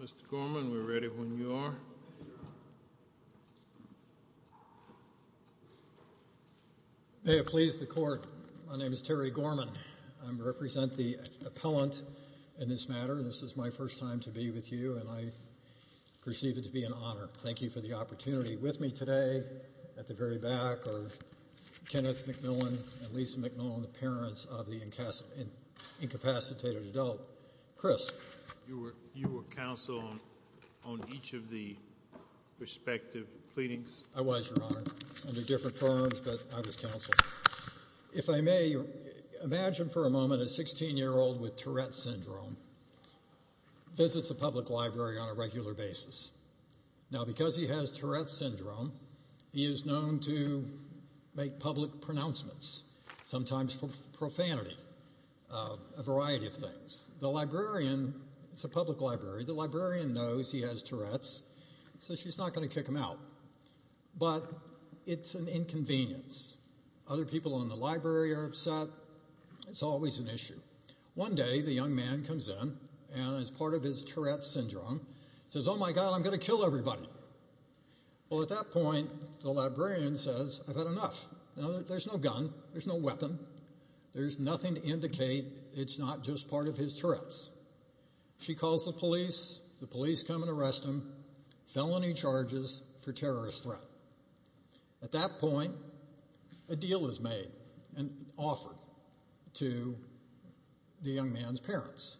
Mr. Gorman, we're ready when you are. May it please the court, my name is Terry Gorman. I represent the appellant in this matter. This is my first time to be with you and I perceive it to be an honor. Thank you for the opportunity with me today at the very back are Kenneth McMillen and Lisa McMillen, the parents of the incapacitated adult. Chris. You were counsel on each of the respective pleadings? The librarian... It's a public library. The librarian knows he has Tourette's, so she's not going to kick him out. But it's an inconvenience. Other people in the library are upset. It's always an issue. One day, the young man comes in and is part of his Tourette's syndrome. He says, oh my God, I'm going to kill everybody. Well, at that point, the librarian says, I've had enough. There's no gun. There's no weapon. There's nothing to indicate it's not just part of his Tourette's. She calls the police. The police come and arrest him. Felony charges for terrorist threat. At that point, a deal is made and offered to the young man's parents.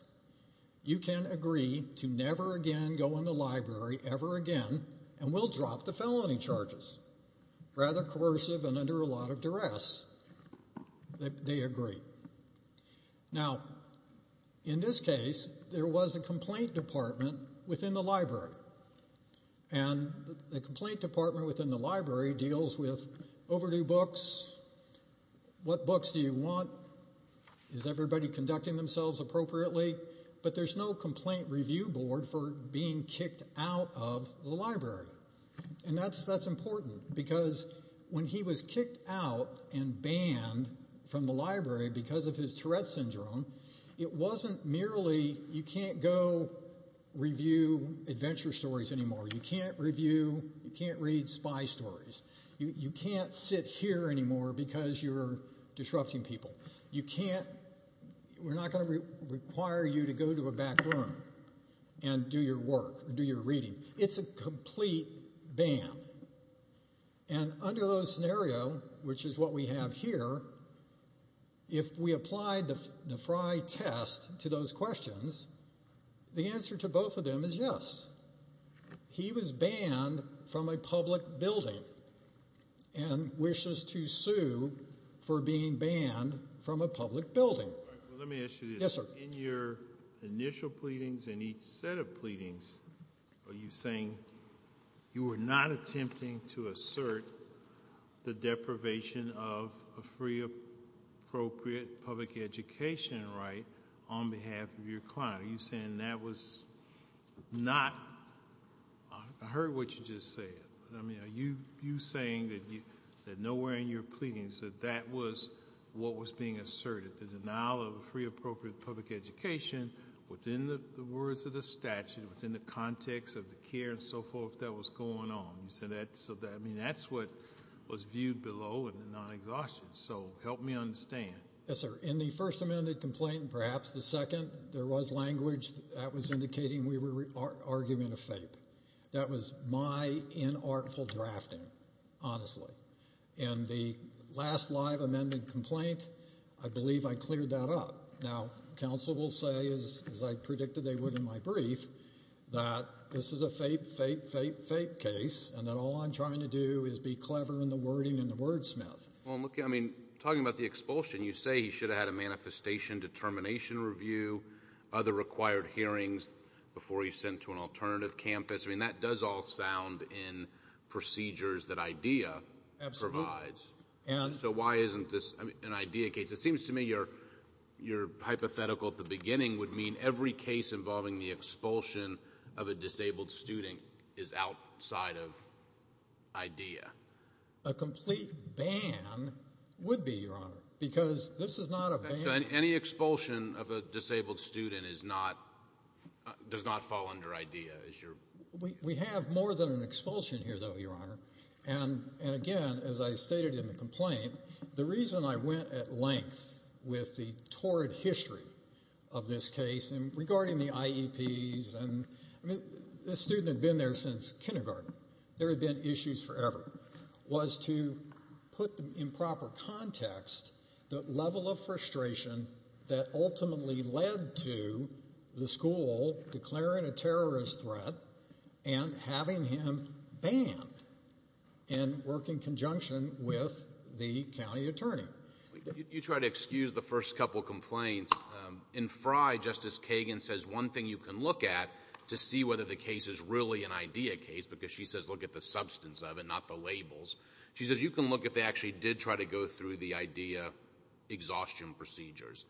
You can agree to never again go in the library ever again and we'll drop the felony charges. Rather coercive and under a lot of duress, they agree. Now, in this case, there was a complaint department within the library. The complaint department within the library deals with overdue books, what books do you want, is everybody conducting themselves appropriately? But there's no complaint review board for being kicked out of the library. And that's important because when he was kicked out and banned from the library because of his Tourette's syndrome, it wasn't merely you can't go review adventure stories anymore. You can't review, you can't read spy stories. You can't sit here anymore because you're disrupting people. You can't, we're not going to require you to go to a back room and do your work, do your reading. It's a complete ban. And under those scenario, which is what we have here, if we applied the Frye test to those questions, the answer to both of them is yes. He was banned from a public building and wishes to sue for being banned from a public building. Let me ask you this. In your initial pleadings and each set of pleadings, are you saying you were not attempting to assert the deprivation of a free, appropriate public education right on behalf of your client? Are you saying that was not, I heard what you just said. Are you saying that nowhere in your pleadings that that was what was being asserted, the denial of a free, appropriate public education within the words of the statute, within the context of the care and so forth that was going on? I mean, that's what was viewed below in the non-exhaustion, so help me understand. Yes, sir. In the first amended complaint, perhaps the second, there was language that was indicating we were arguing a fape. That was my inartful drafting, honestly. In the last live amended complaint, I believe I cleared that up. Now, counsel will say, as I predicted they would in my brief, that this is a fape, fape, fape, fape case and that all I'm trying to do is be clever in the wording and the wordsmith. Well, I mean, talking about the expulsion, you say he should have had a manifestation determination review, other required hearings before he's sent to an alternative campus. I mean, that does all sound in procedures that IDEA provides. Absolutely. And? So why isn't this an IDEA case? It seems to me your hypothetical at the beginning would mean every case involving the expulsion of a disabled student is outside of IDEA. A complete ban would be, your honor, because this is not a ban. So any expulsion of a disabled student is not, does not fall under IDEA, is your? We have more than an expulsion here, though, your honor. And again, as I stated in the complaint, the reason I went at length with the torrid history of this case and regarding the IEPs and the student had been there since kindergarten. There had been issues forever was to put in proper context the level of frustration that ultimately led to the school declaring a terrorist threat and having him banned and work in conjunction with the county attorney. You try to excuse the first couple of complaints. In Frye, Justice Kagan says one thing you can look at to see whether the case is really an IDEA case, because she says look at the substance of it, not the labels. She says you can look if they actually did try to go through the IDEA exhaustion procedures.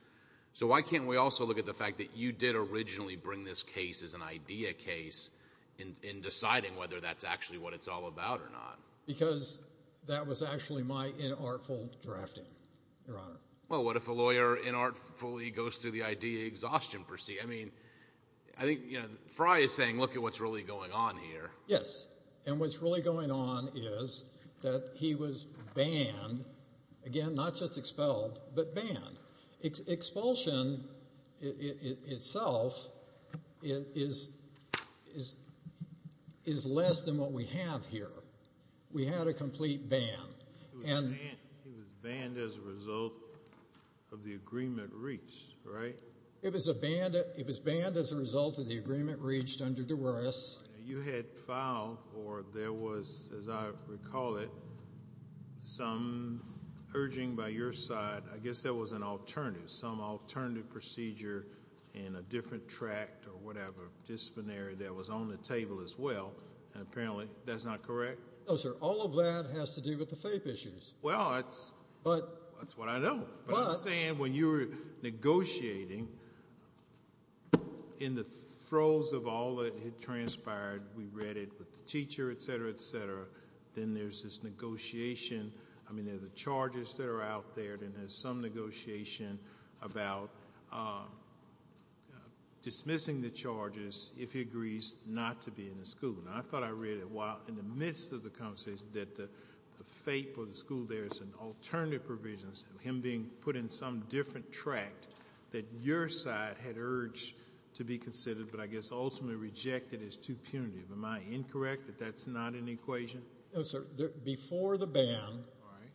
So why can't we also look at the fact that you did originally bring this case as an IDEA case in deciding whether that's actually what it's all about or not? Because that was actually my inartful drafting, your honor. Well, what if a lawyer inartfully goes through the IDEA exhaustion procedure? I mean, I think Frye is saying look at what's really going on here. Yes, and what's really going on is that he was banned, again, not just expelled, but banned. Expulsion itself is less than what we have here. We had a complete ban. He was banned as a result of the agreement reached, right? It was banned as a result of the agreement reached under DeRuris. You had filed, or there was, as I recall it, some urging by your side, I guess there was an alternative, some alternative procedure in a different tract or whatever, disciplinary that was on the table as well, and apparently that's not correct? No, sir. All of that has to do with the FAPE issues. Well, that's what I know. But I'm saying when you were negotiating, in the throes of all that had transpired, we read it with the teacher, et cetera, et cetera, then there's this negotiation. I mean, there are the charges that are out there, then there's some negotiation about dismissing the charges if he agrees not to be in the school. Now, I thought I read it while in the midst of the conversation that the FAPE or the school there is an alternative provision of him being put in some different tract that your side had urged to be considered, but I guess ultimately rejected as too punitive. Am I incorrect that that's not an equation? No, sir. Before the ban,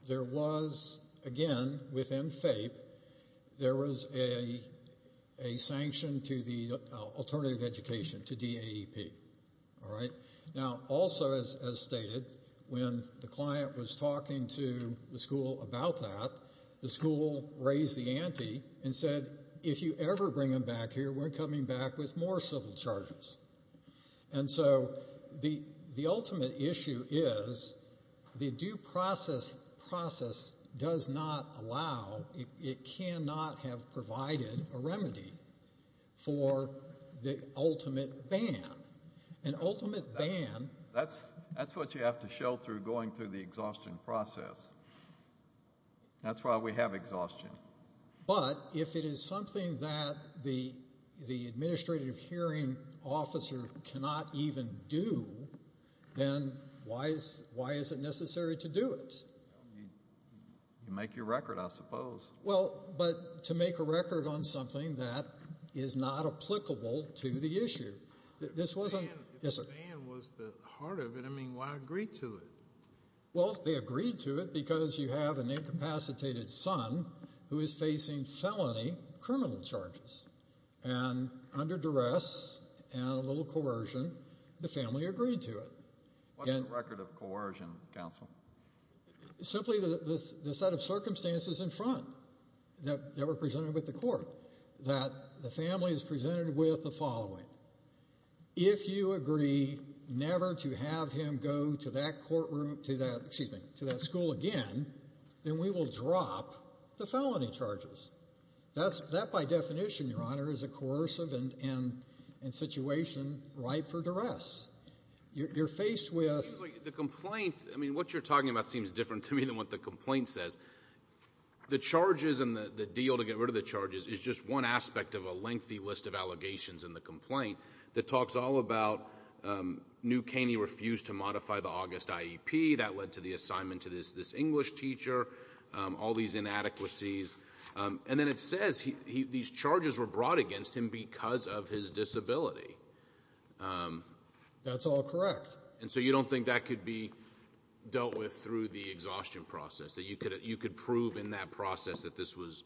there was, again, within FAPE, there was a sanction to the alternative education, to DAEP. All right? Now, also as stated, when the client was talking to the school about that, the school raised the ante and said, if you ever bring him back here, we're coming back with more civil charges. And so the ultimate issue is the due process process does not allow, it cannot have provided a remedy for the ultimate ban. An ultimate ban... That's what you have to show through going through the exhaustion process. That's why we have exhaustion. But if it is something that the administrative hearing officer cannot even do, then why is it necessary to do it? You make your record, I suppose. Well, but to make a record on something that is not applicable to the issue. This wasn't... If the ban was the heart of it, I mean, why agree to it? Well, they agreed to it because you have an incapacitated son who is facing felony criminal charges. And under duress and a little coercion, the family agreed to it. What's the record of coercion, counsel? Simply the set of circumstances in front that were presented with the court, that the family is presented with the following. If you agree never to have him go to that courtroom, to that, excuse me, to that school again, then we will drop the felony charges. That's by definition, Your Honor, is a coercive and situation ripe for duress. You're faced with... The complaint, I mean, what you're talking about seems different to me than what the complaint says. The charges and the deal to get rid of the charges is just one aspect of a lengthy list of allegations in the complaint that talks all about New Caney refused to modify the August IEP. That led to the assignment to this English teacher, all these inadequacies. And then it says these charges were brought against him because of his disability. That's all correct. And so you don't think that could be dealt with through the exhaustion process, that you could prove in that process that this was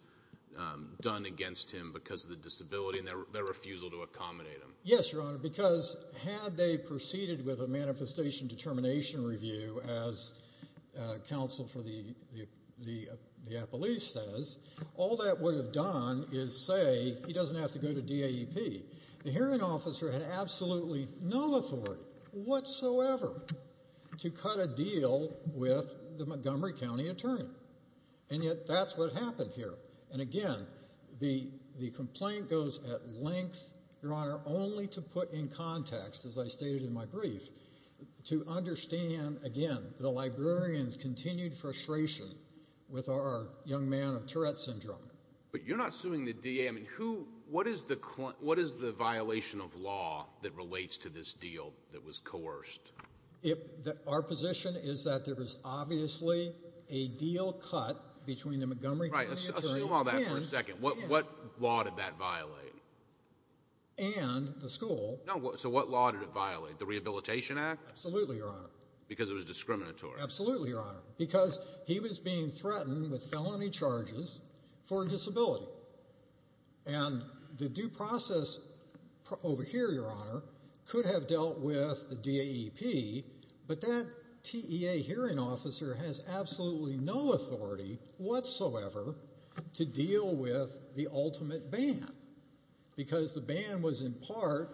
done against him because of the disability and their refusal to accommodate him? Yes, Your Honor, because had they proceeded with a manifestation determination review, as counsel for the police says, all that would have done is say he doesn't have to go to DAEP. The hearing officer had absolutely no authority whatsoever to cut a deal with the Montgomery County attorney. And yet that's what happened here. And again, the complaint goes at length, Your Honor, only to put in context, as I stated in my brief, to understand, again, the librarian's continued frustration with our young man of Tourette syndrome. But you're not suing the DA. I mean, what is the violation of law that relates to this deal that was coerced? Our position is that there was obviously a deal cut between the Montgomery County attorney and the school. So what law did it violate, the Rehabilitation Act? Absolutely, Your Honor. Because it was discriminatory? Absolutely, Your Honor, because he was being threatened with felony charges for a disability. And the due process over here, Your Honor, could have dealt with the DAEP, but that TEA hearing officer has absolutely no authority whatsoever to deal with the ultimate ban because the ban was in part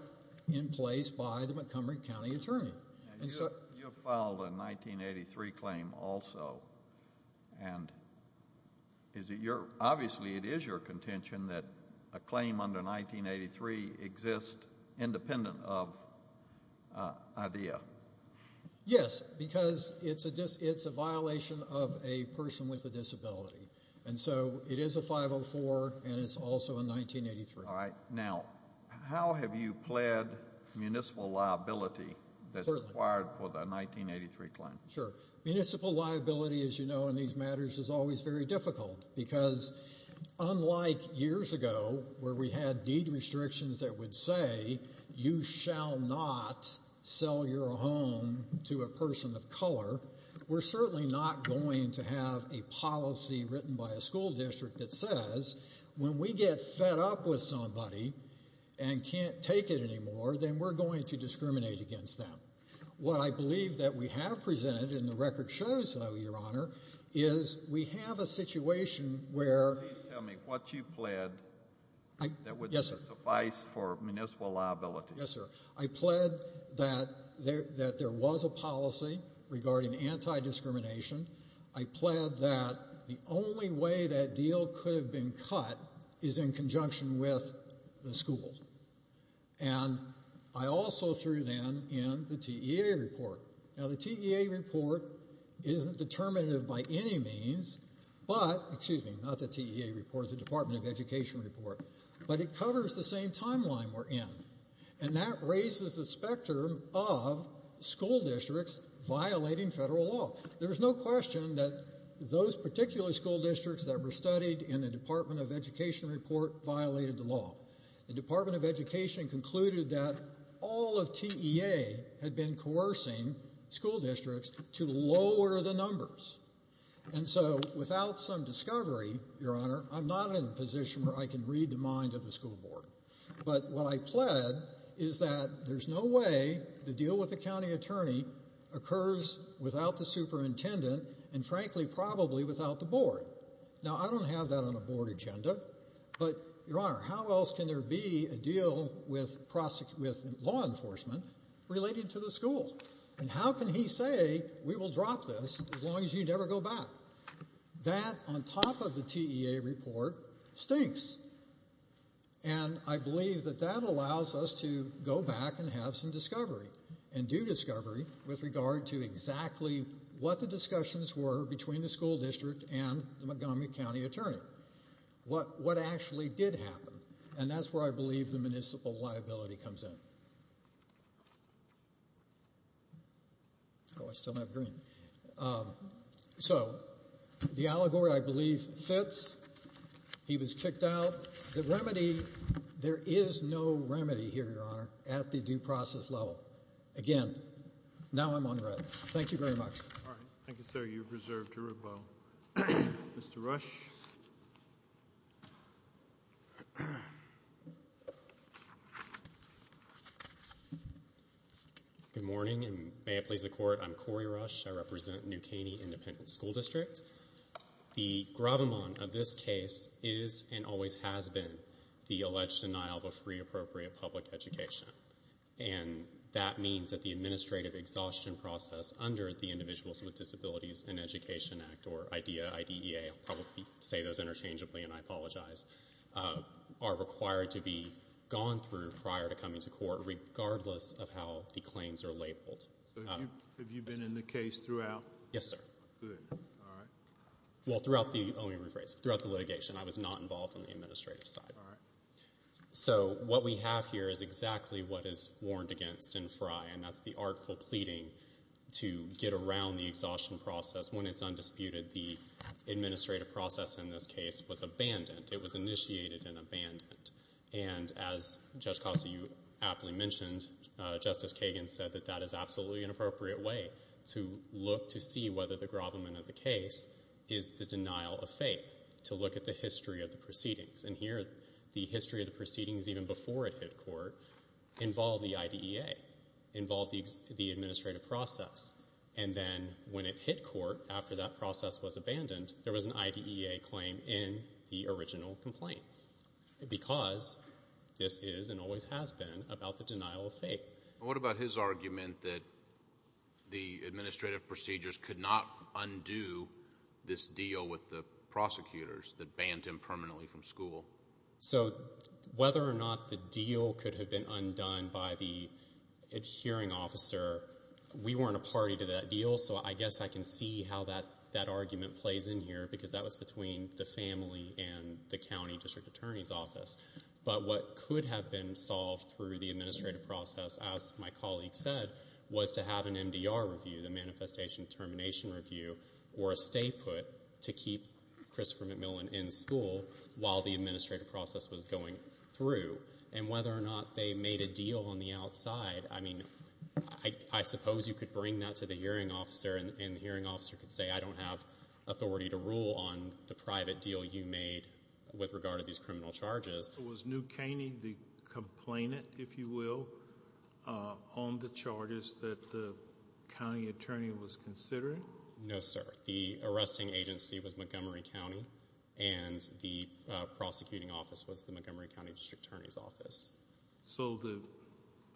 in place by the Montgomery County attorney. You filed a 1983 claim also, and obviously it is your contention that a claim under 1983 exists independent of IDEA. Yes, because it's a violation of a person with a disability. And so it is a 504, and it's also a 1983. All right. Now, how have you pled municipal liability that's required for the 1983 claim? Sure. Municipal liability, as you know in these matters, is always very difficult because unlike years ago where we had deed restrictions that would say, you shall not sell your home to a person of color, we're certainly not going to have a policy written by a school district that says when we get fed up with somebody and can't take it anymore, then we're going to discriminate against them. What I believe that we have presented, and the record shows that, Your Honor, is we have a situation where... Please tell me what you pled that would suffice for municipal liability. Yes, sir. I pled that there was a policy regarding anti-discrimination. I pled that the only way that deal could have been cut is in conjunction with the school. And I also threw then in the TEA report. Now, the TEA report isn't determinative by any means, but, excuse me, not the TEA report, the Department of Education report, but it covers the same timeline we're in. And that raises the spectrum of school districts violating federal law. There's no question that those particular school districts that were studied in the Department of Education report violated the law. The Department of Education concluded that all of TEA had been coercing school districts to lower the numbers. And so, without some discovery, Your Honor, I'm not in a position where I can read the mind of the school board. But what I pled is that there's no way the deal with the county attorney occurs without the superintendent and, frankly, probably without the board. Now, I don't have that on the board agenda, but, Your Honor, how else can there be a deal with law enforcement related to the school? And how can he say, we will drop this as long as you never go back? That, on top of the TEA report, stinks. And I believe that that allows us to go back and have some discovery and do discovery with regard to exactly what the discussions were between the school district and the Montgomery County attorney. What actually did happen? And that's where I believe the municipal liability comes in. Oh, I still have green. So, the allegory, I believe, fits. He was kicked out. The remedy, there is no remedy here, Your Honor, at the due process level. Again, now I'm on the right. Thank you very much. All right. Thank you, sir. You're reserved to rebuttal. Mr. Rush? Good morning, and may it please the Court. I'm Corey Rush. I represent New Caney Independent School District. The gravamon of this case is and always has been the alleged denial of a free, appropriate public education. And that means that the administrative exhaustion process under the Individuals with Disabilities in Education Act, or IDEA, I'll probably say those interchangeably and I apologize, are required to be gone through prior to coming to court, regardless of how the claims are labeled. So, have you been in the case throughout? Yes, sir. Good. All right. Well, throughout the, let me rephrase, throughout the litigation, I was not involved on the administrative side. All right. So, what we have here is exactly what is warned against in Frye, and that's the artful pleading to get around the exhaustion process. When it's undisputed, the administrative process in this case was abandoned. It was initiated and abandoned. And as Judge Costa, you aptly mentioned, Justice Kagan said that that is absolutely an appropriate way to look to see whether the gravamon of the case is the denial of faith, to look at the history of the proceedings. And here, the history of the proceedings even before it hit court involved the IDEA, involved the administrative process. And then when it hit court, after that process was abandoned, there was an IDEA claim in the original complaint, because this is and always has been about the denial of faith. What about his argument that the administrative procedures could not undo this deal with the prosecutors that banned him permanently from school? So, whether or not the deal could have been undone by the adhering officer, we weren't a party to that deal, so I guess I can see how that argument plays in here, because that was between the family and the county district attorney's office. But what could have been solved through the administrative process, as my colleague said, was to have an MDR review, the Manifestation Termination Review, or a stay put to keep Christopher McMillan in school while the administrative process was going through. And whether or not they made a deal on the outside, I mean, I suppose you could bring that to the adhering officer, and the adhering officer could say, I don't have authority to rule on the private deal you made with regard to these criminal charges. So was New Caney the complainant, if you will, on the charges that the county attorney was considering? No, sir. The arresting agency was Montgomery County, and the prosecuting office was the Montgomery County district attorney's office. So the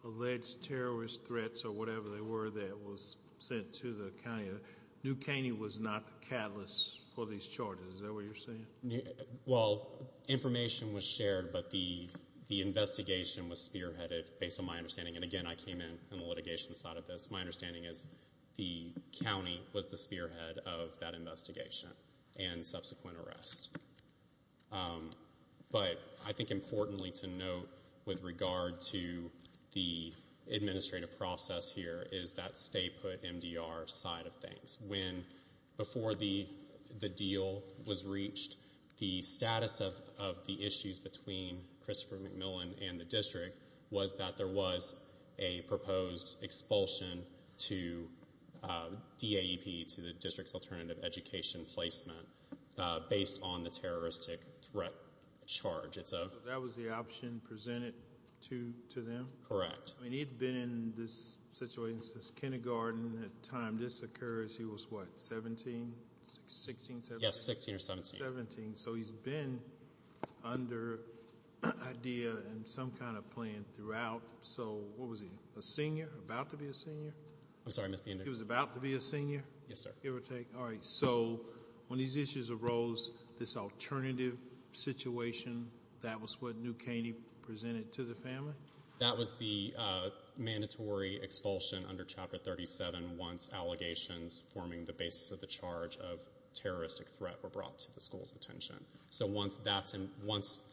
alleged terrorist threats or whatever they were that was sent to the county, New Caney was not the catalyst for these charges, is that what you're saying? Well, information was shared, but the investigation was spearheaded based on my understanding. And, again, I came in on the litigation side of this. My understanding is the county was the spearhead of that investigation and subsequent arrest. But I think importantly to note with regard to the administrative process here is that stay put MDR side of things. Before the deal was reached, the status of the issues between Christopher McMillan and the district was that there was a proposed expulsion to DAEP, to the district's alternative education placement, based on the terroristic threat charge. So that was the option presented to them? Correct. I mean, he'd been in this situation since kindergarten. At the time this occurs, he was what, 17, 16, 17? Yes, 16 or 17. 17, so he's been under IDEA and some kind of plan throughout. So what was he, a senior, about to be a senior? I'm sorry, Mr. Andrews. He was about to be a senior? Yes, sir. All right, so when these issues arose, this alternative situation, that was what New Caney presented to the family? That was the mandatory expulsion under Chapter 37 once allegations forming the basis of the charge of terroristic threat were brought to the school's attention. So once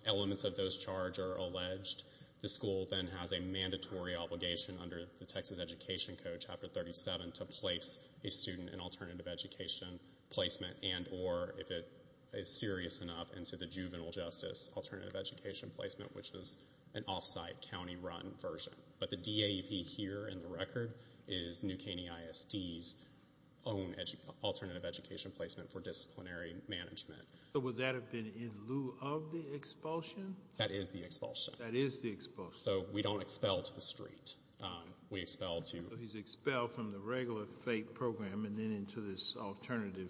elements of those charges are alleged, the school then has a mandatory obligation under the Texas Education Code, Chapter 37, to place a student in alternative education placement and or, if it is serious enough, into the juvenile justice alternative education placement, which is an off-site, county-run version. But the DAEP here in the record is New Caney ISD's own alternative education placement for disciplinary management. So would that have been in lieu of the expulsion? That is the expulsion. That is the expulsion. So we don't expel to the street. We expel to— So he's expelled from the regular FATE program and then into this alternative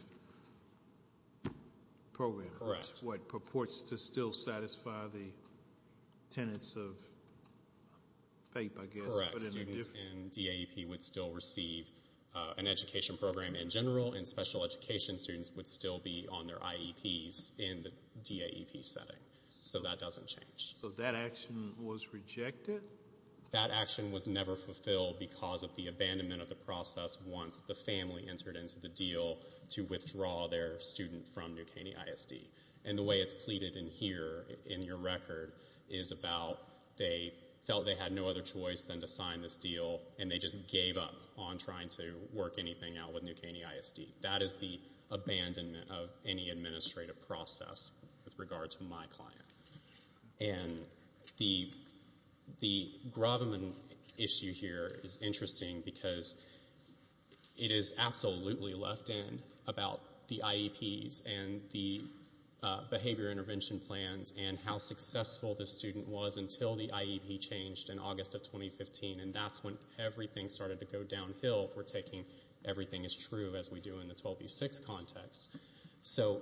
program. Correct. Which purports to still satisfy the tenets of FATE, I guess. Correct. Students in DAEP would still receive an education program in general, and special education students would still be on their IEPs in the DAEP setting. So that doesn't change. So that action was rejected? That action was never fulfilled because of the abandonment of the process once the family entered into the deal to withdraw their student from New Caney ISD. And the way it's pleaded in here, in your record, is about they felt they had no other choice than to sign this deal, and they just gave up on trying to work anything out with New Caney ISD. That is the abandonment of any administrative process with regard to my client. And the Grobman issue here is interesting because it is absolutely left in about the IEPs and the behavior intervention plans and how successful the student was until the IEP changed in August of 2015, and that's when everything started to go downhill for taking everything as true as we do in the 12B6 context. So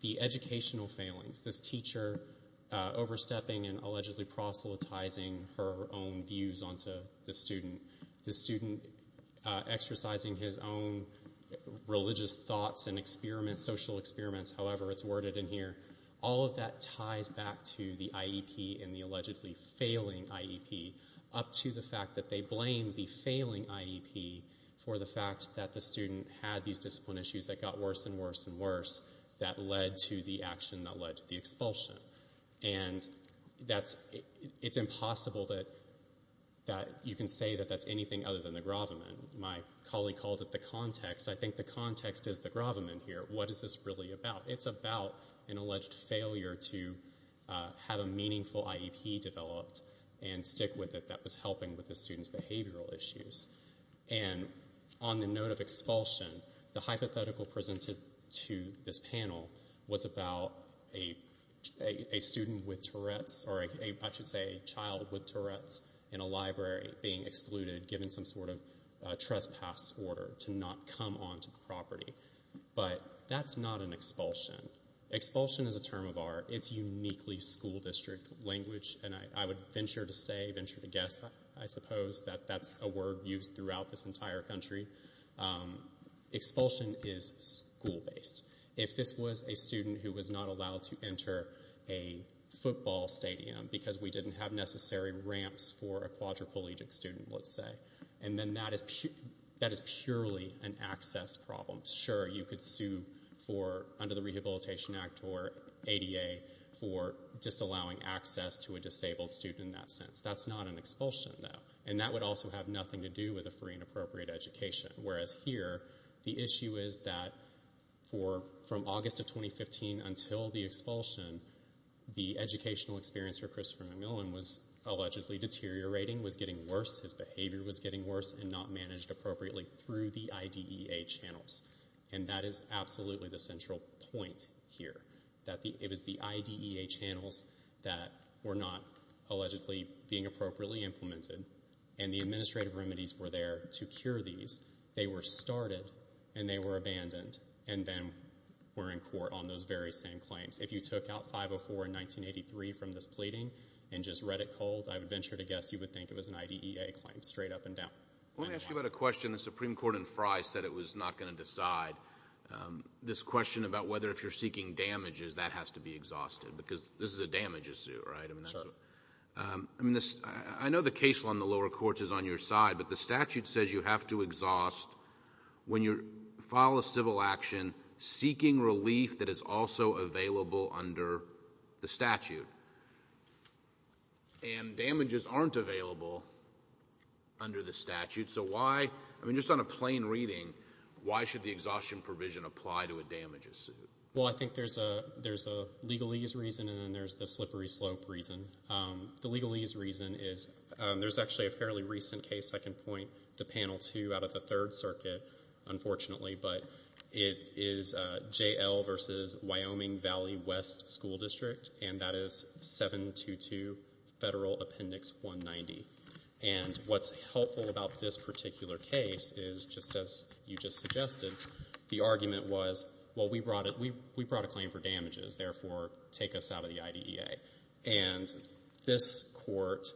the educational failings, this teacher overstepping and allegedly proselytizing her own views onto the student, the student exercising his own religious thoughts and social experiments, however it's worded in here, all of that ties back to the IEP and the allegedly failing IEP, up to the fact that they blame the failing IEP for the fact that the student had these discipline issues that got worse and worse and worse that led to the action that led to the expulsion. And it's impossible that you can say that that's anything other than the Grobman. My colleague called it the context. I think the context is the Grobman here. What is this really about? It's about an alleged failure to have a meaningful IEP developed and stick with it that was helping with the student's behavioral issues. And on the note of expulsion, the hypothetical presented to this panel was about a student with Tourette's, or I should say a child with Tourette's, in a library being excluded, given some sort of trespass order to not come onto the property. But that's not an expulsion. Expulsion is a term of art. It's uniquely school district language, and I would venture to say, venture to guess, I suppose, that that's a word used throughout this entire country. Expulsion is school-based. If this was a student who was not allowed to enter a football stadium because we didn't have necessary ramps for a quadriplegic student, let's say, then that is purely an access problem. Sure, you could sue under the Rehabilitation Act or ADA for disallowing access to a disabled student in that sense. That's not an expulsion, though. And that would also have nothing to do with a free and appropriate education. Whereas here, the issue is that from August of 2015 until the expulsion, the educational experience for Christopher McMillan was allegedly deteriorating, was getting worse, his behavior was getting worse and not managed appropriately through the IDEA channels. And that is absolutely the central point here, that it was the IDEA channels that were not allegedly being appropriately implemented, and the administrative remedies were there to cure these. They were started and they were abandoned and then were in court on those very same claims. If you took out 504 in 1983 from this pleading and just read it cold, I would venture to guess you would think it was an IDEA claim, straight up and down. Let me ask you about a question the Supreme Court in Frye said it was not going to decide. This question about whether if you're seeking damages, that has to be exhausted, because this is a damages suit, right? I know the case on the lower courts is on your side, but the statute says you have to exhaust when you file a civil action seeking relief that is also available under the statute. And damages aren't available under the statute, so why? I mean, just on a plain reading, why should the exhaustion provision apply to a damages suit? Well, I think there's a legalese reason and then there's the slippery slope reason. The legalese reason is there's actually a fairly recent case. I can point to Panel 2 out of the Third Circuit, unfortunately, but it is JL versus Wyoming Valley West School District, and that is 722 Federal Appendix 190. And what's helpful about this particular case is, just as you just suggested, the argument was, well, we brought a claim for damages. Therefore, take us out of the IDEA. And this Court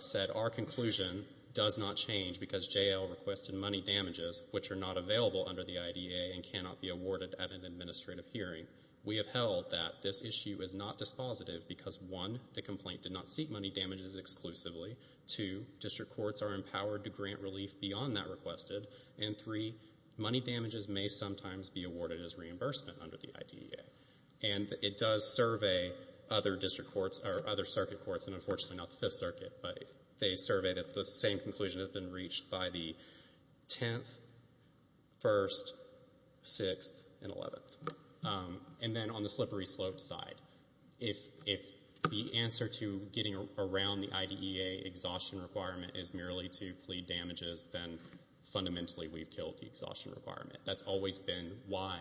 said our conclusion does not change because JL requested money damages, which are not available under the IDEA and cannot be awarded at an administrative hearing. We have held that this issue is not dispositive because, one, the complaint did not seek money damages exclusively. Two, district courts are empowered to grant relief beyond that requested. And three, money damages may sometimes be awarded as reimbursement under the IDEA. And it does survey other district courts or other circuit courts, and unfortunately not the Fifth Circuit, but they survey that the same conclusion has been reached by the 10th, 1st, 6th, and 11th. And then on the slippery slope side, if the answer to getting around the IDEA exhaustion requirement is merely to plead damages, then fundamentally we've killed the exhaustion requirement. That's always been why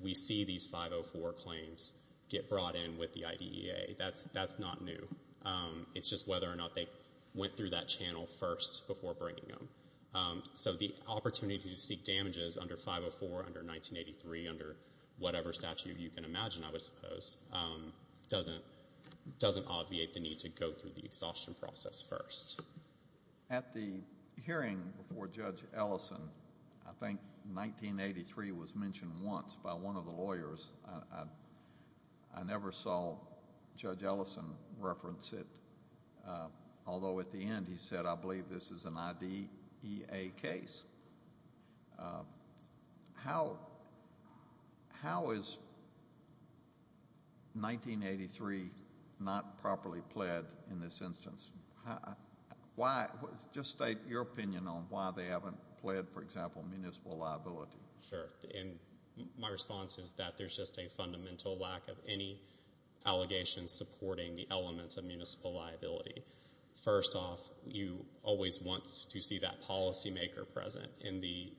we see these 504 claims get brought in with the IDEA. That's not new. It's just whether or not they went through that channel first before bringing them. So the opportunity to seek damages under 504, under 1983, under whatever statute you can imagine, I would suppose, doesn't obviate the need to go through the exhaustion process first. At the hearing before Judge Ellison, I think 1983 was mentioned once by one of the lawyers. I never saw Judge Ellison reference it, although at the end he said, I believe this is an IDEA case. How is 1983 not properly pled in this instance? Just state your opinion on why they haven't pled, for example, municipal liability. Sure. My response is that there's just a fundamental lack of any allegations supporting the elements of municipal liability. First off, you always want to see that policymaker present in the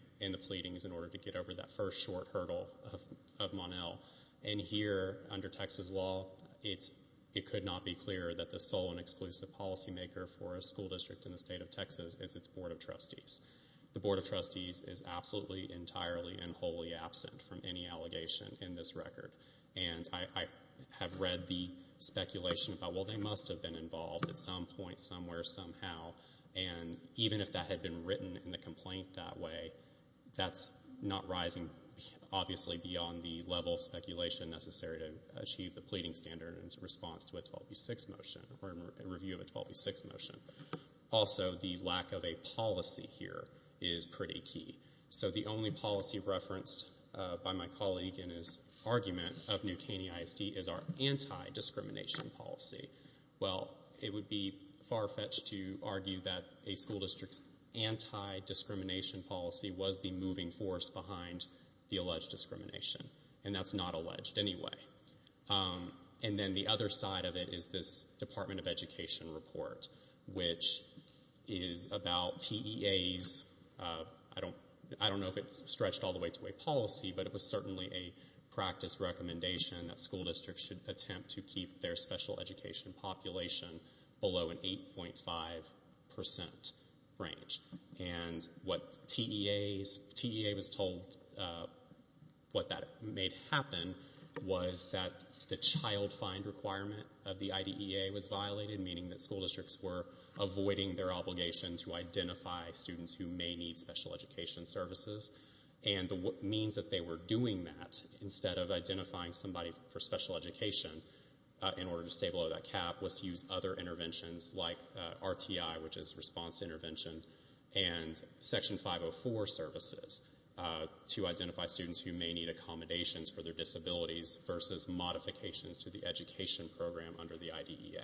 pleadings in order to get over that first short hurdle of Mon-El. And here, under Texas law, it could not be clearer that the sole and exclusive policymaker for a school district in the state of Texas is its Board of Trustees. The Board of Trustees is absolutely, entirely, and wholly absent from any allegation in this record. And I have read the speculation about, well, they must have been involved at some point, somewhere, somehow, and even if that had been written in the complaint that way, that's not rising, obviously, beyond the level of speculation necessary to achieve the pleading standard in response to a 12b-6 motion or a review of a 12b-6 motion. Also, the lack of a policy here is pretty key. So the only policy referenced by my colleague in his argument of New Caney ISD is our anti-discrimination policy. Well, it would be far-fetched to argue that a school district's anti-discrimination policy was the moving force behind the alleged discrimination, and that's not alleged anyway. And then the other side of it is this Department of Education report, which is about TEAs. I don't know if it stretched all the way to a policy, but it was certainly a practice recommendation that school districts should attempt to keep their special education population below an 8.5% range. And what TEA was told, what that made happen, was that the child find requirement of the IDEA was violated, meaning that school districts were avoiding their obligation to identify students who may need special education services. And the means that they were doing that, instead of identifying somebody for special education in order to stay below that cap, was to use other interventions like RTI, which is response intervention, and Section 504 services to identify students who may need accommodations for their disabilities versus modifications to the education program under the IDEA.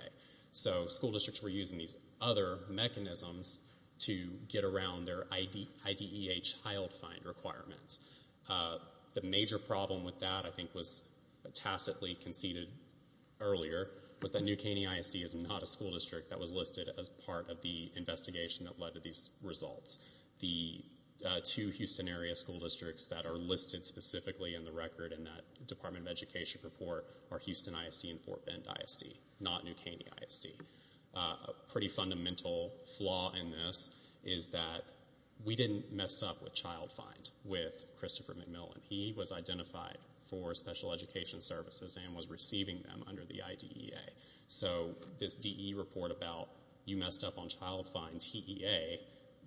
So school districts were using these other mechanisms to get around their IDEA child find requirements. The major problem with that, I think, was tacitly conceded earlier was that New Caney ISD is not a school district that was listed as part of the investigation that led to these results. The two Houston-area school districts that are listed specifically in the record in that Department of Education report are Houston ISD and Fort Bend ISD, not New Caney ISD. A pretty fundamental flaw in this is that we didn't mess up with child find with Christopher McMillan. He was identified for special education services and was receiving them under the IDEA. So this DE report about you messed up on child find, TEA,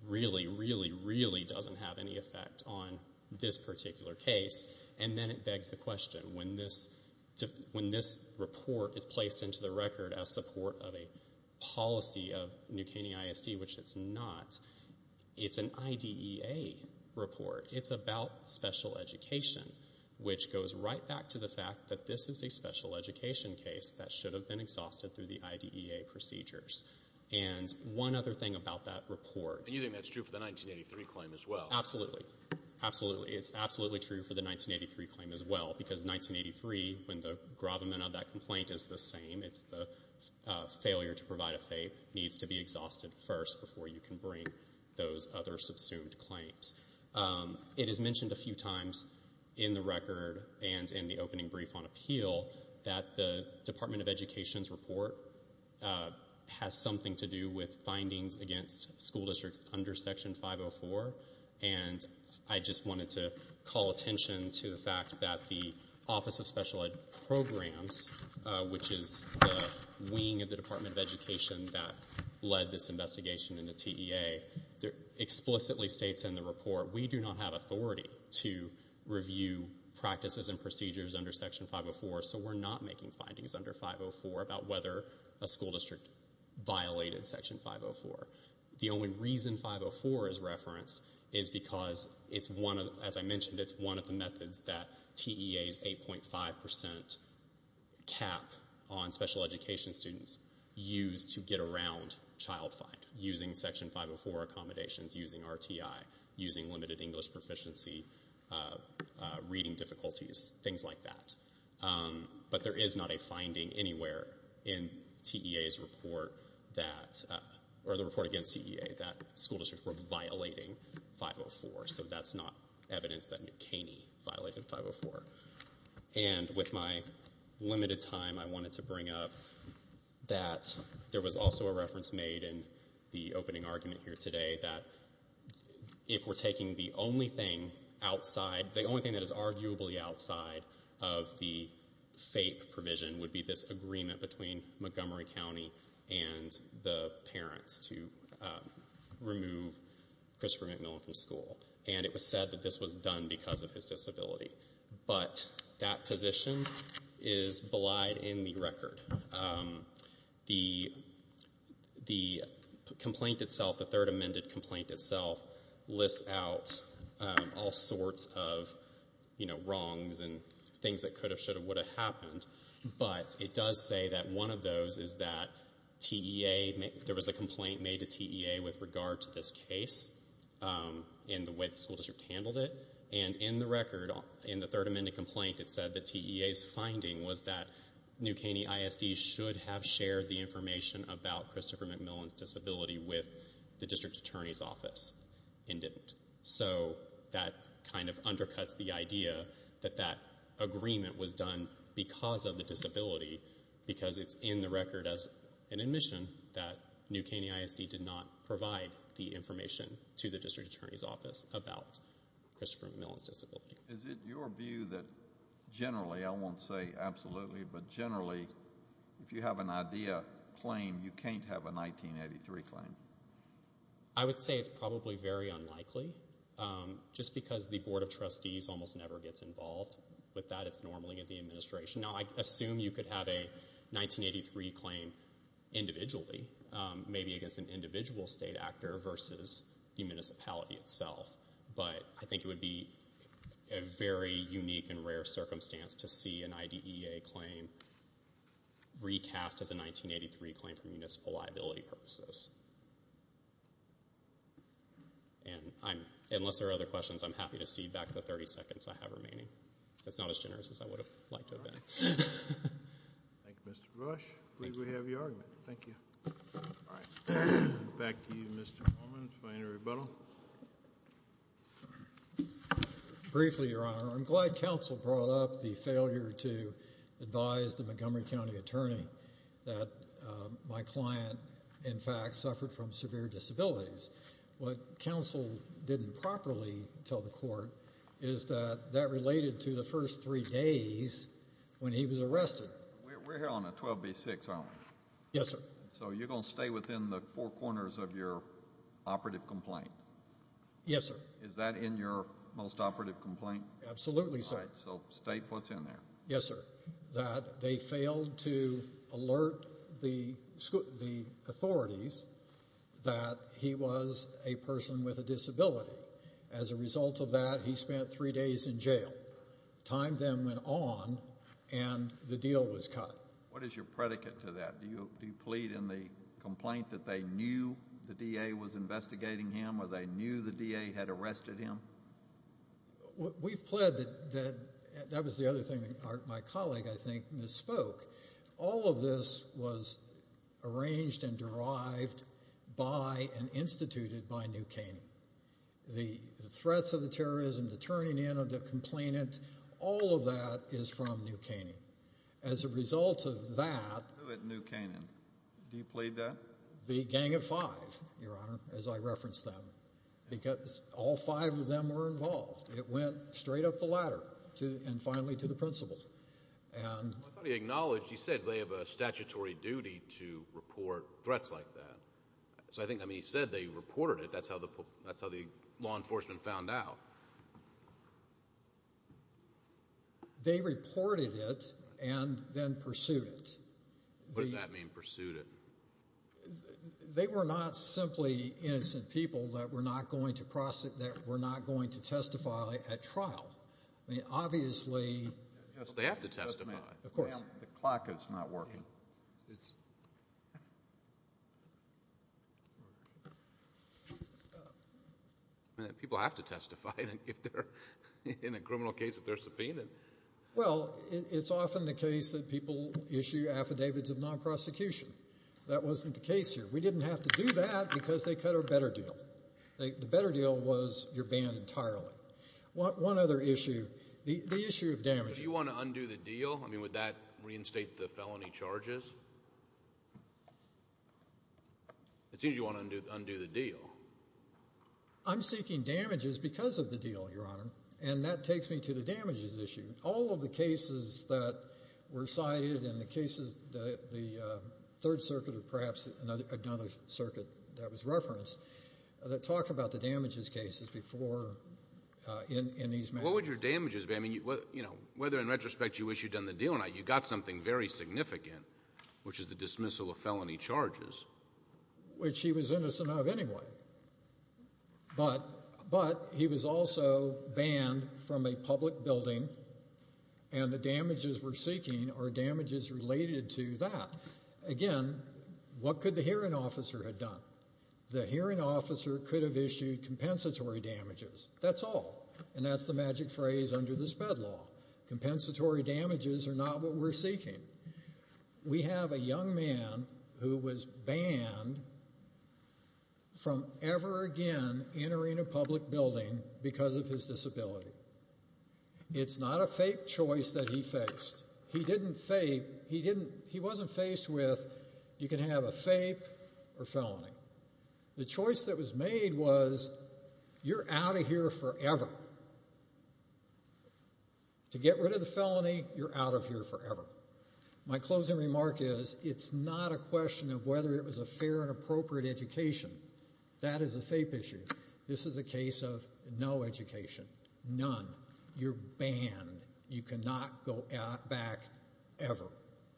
really, really, really doesn't have any effect on this particular case. And then it begs the question, when this report is placed into the record as support of a policy of New Caney ISD, which it's not, it's an IDEA report. It's about special education, which goes right back to the fact that this is a special education case that should have been exhausted through the IDEA procedures. And one other thing about that report. And you think that's true for the 1983 claim as well? Absolutely. Absolutely. It's absolutely true for the 1983 claim as well because 1983, when the gravamen of that complaint is the same, it's the failure to provide a FAPE needs to be exhausted first before you can bring those other subsumed claims. It is mentioned a few times in the record and in the opening brief on appeal that the Department of Education's report has something to do with findings against school districts under Section 504. And I just wanted to call attention to the fact that the Office of Special Ed Programs, which is the wing of the Department of Education that led this investigation in the TEA, explicitly states in the report, we do not have authority to review practices and procedures under Section 504, so we're not making findings under 504 about whether a school district violated Section 504. The only reason 504 is referenced is because, as I mentioned, it's one of the methods that TEA's 8.5% cap on special education students use to get around child fine, using Section 504 accommodations, using RTI, using limited English proficiency, reading difficulties, things like that. But there is not a finding anywhere in the report against TEA that school districts were violating 504, so that's not evidence that McKinney violated 504. And with my limited time, I wanted to bring up that there was also a reference made in the opening argument here today that if we're taking the only thing outside, the only thing that is arguably outside of the FAPE provision would be this agreement between Montgomery County and the parents to remove Christopher McMillan from school. And it was said that this was done because of his disability. But that position is belied in the record. The complaint itself, the third amended complaint itself, lists out all sorts of, you know, wrongs and things that could have, should have, would have happened. But it does say that one of those is that TEA, there was a complaint made to TEA with regard to this case and the way the school district handled it. And in the record, in the third amended complaint, it said that TEA's finding was that New Caney ISD should have shared the information about Christopher McMillan's disability with the district attorney's office and didn't. So that kind of undercuts the idea that that agreement was done because of the disability because it's in the record as an admission that New Caney ISD did not provide the information to the district attorney's office about Christopher McMillan's disability. Is it your view that generally, I won't say absolutely, but generally if you have an IDEA claim, you can't have a 1983 claim? I would say it's probably very unlikely just because the Board of Trustees almost never gets involved. With that, it's normally in the administration. Now, I assume you could have a 1983 claim individually, maybe against an individual state actor versus the municipality itself. But I think it would be a very unique and rare circumstance to see an IDEA claim recast as a 1983 claim for municipal liability purposes. And unless there are other questions, I'm happy to cede back the 30 seconds I have remaining. That's not as generous as I would have liked it to have been. Thank you, Mr. Brosh. I'm glad we have your argument. Thank you. All right. Back to you, Mr. Coleman, if I can rebuttal. Briefly, Your Honor, I'm glad counsel brought up the failure to advise the Montgomery County attorney that my client, in fact, suffered from severe disabilities. What counsel didn't properly tell the court is that that related to the first three days when he was arrested. We're here on a 12B6, aren't we? Yes, sir. So you're going to stay within the four corners of your operative complaint? Yes, sir. Is that in your most operative complaint? Absolutely, sir. So state what's in there. Yes, sir. That they failed to alert the authorities that he was a person with a disability. As a result of that, he spent three days in jail. Time then went on, and the deal was cut. What is your predicate to that? Do you plead in the complaint that they knew the DA was investigating him or they knew the DA had arrested him? We've pled that that was the other thing my colleague, I think, misspoke. All of this was arranged and derived by and instituted by New Caney. The threats of the terrorism, the turning in of the complainant, all of that is from New Caney. As a result of that... Who at New Caney? Do you plead that? The Gang of Five, Your Honor, as I referenced them. Because all five of them were involved. It went straight up the ladder and finally to the principal. I thought he acknowledged, he said they have a statutory duty to report threats like that. So I think when he said they reported it, that's how the law enforcement found out. They reported it and then pursued it. What does that mean, pursued it? They were not simply innocent people that were not going to testify at trial. I mean, obviously... They have to testify. Of course. Ma'am, the clock is not working. Well, it's... People have to testify in a criminal case if they're subpoenaed. Well, it's often the case that people issue affidavits of non-prosecution. That wasn't the case here. We didn't have to do that because they cut our better deal. The better deal was you're banned entirely. One other issue, the issue of damages... Do you want to undo the deal? I mean, would that reinstate the felony charges? It seems you want to undo the deal. I'm seeking damages because of the deal, Your Honor, and that takes me to the damages issue. All of the cases that were cited in the cases that the Third Circuit or perhaps another circuit that was referenced that talk about the damages cases before in these matters. What would your damages be? I mean, whether in retrospect you wish you'd done the deal or not, you got something very significant, which is the dismissal of felony charges. Which he was innocent of anyway. But he was also banned from a public building, and the damages we're seeking are damages related to that. Again, what could the hearing officer have done? The hearing officer could have issued compensatory damages. That's all. And that's the magic phrase under this fed law. Compensatory damages are not what we're seeking. We have a young man who was banned from ever again entering a public building because of his disability. It's not a fake choice that he faced. He didn't fake... He wasn't faced with you can have a fake or felony. The choice that was made was you're out of here forever. To get rid of the felony, you're out of here forever. My closing remark is it's not a question of whether it was a fair and appropriate education. That is a fake issue. This is a case of no education. None. You're banned. You cannot go back ever.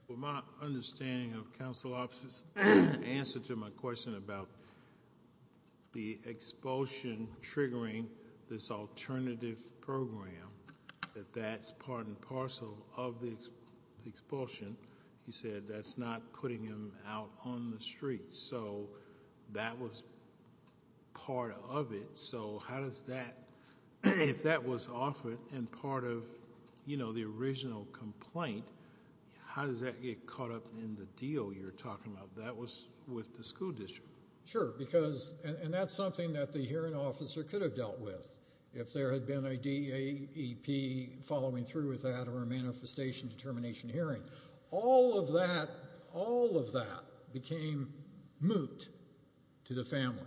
With my understanding of counsel officer's answer to my question about the expulsion triggering this alternative program, that that's part and parcel of the expulsion. He said that's not putting him out on the street. So that was part of it. So how does that, if that was offered and part of the original complaint, how does that get caught up in the deal you're talking about? That was with the school district. Sure. And that's something that the hearing officer could have dealt with if there had been a DAEP following through with that or a manifestation determination hearing. All of that became moot to the family.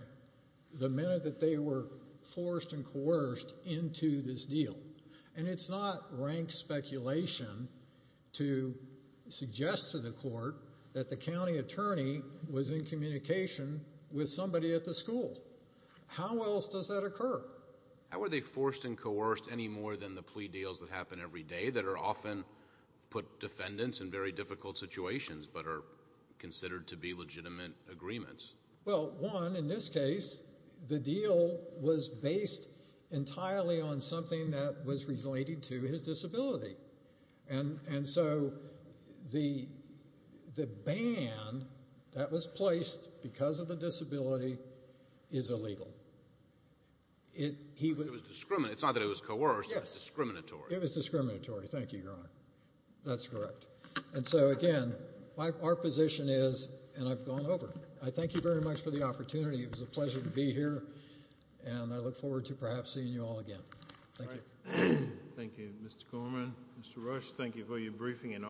The minute that they were forced and coerced into this deal. And it's not rank speculation to suggest to the court that the county attorney was in communication with somebody at the school. How else does that occur? How are they forced and coerced any more than the plea deals that happen every day that are often put defendants in very difficult situations but are considered to be legitimate agreements? Well, one, in this case, the deal was based entirely on something that was related to his disability. And so the ban that was placed because of the disability is illegal. It was discriminatory. It's not that it was coerced. It was discriminatory. It was discriminatory. Thank you, Your Honor. That's correct. And so, again, our position is, and I've gone over. I thank you very much for the opportunity. It was a pleasure to be here, and I look forward to perhaps seeing you all again. Thank you. Thank you, Mr. Gorman. Mr. Rush, thank you for your briefing.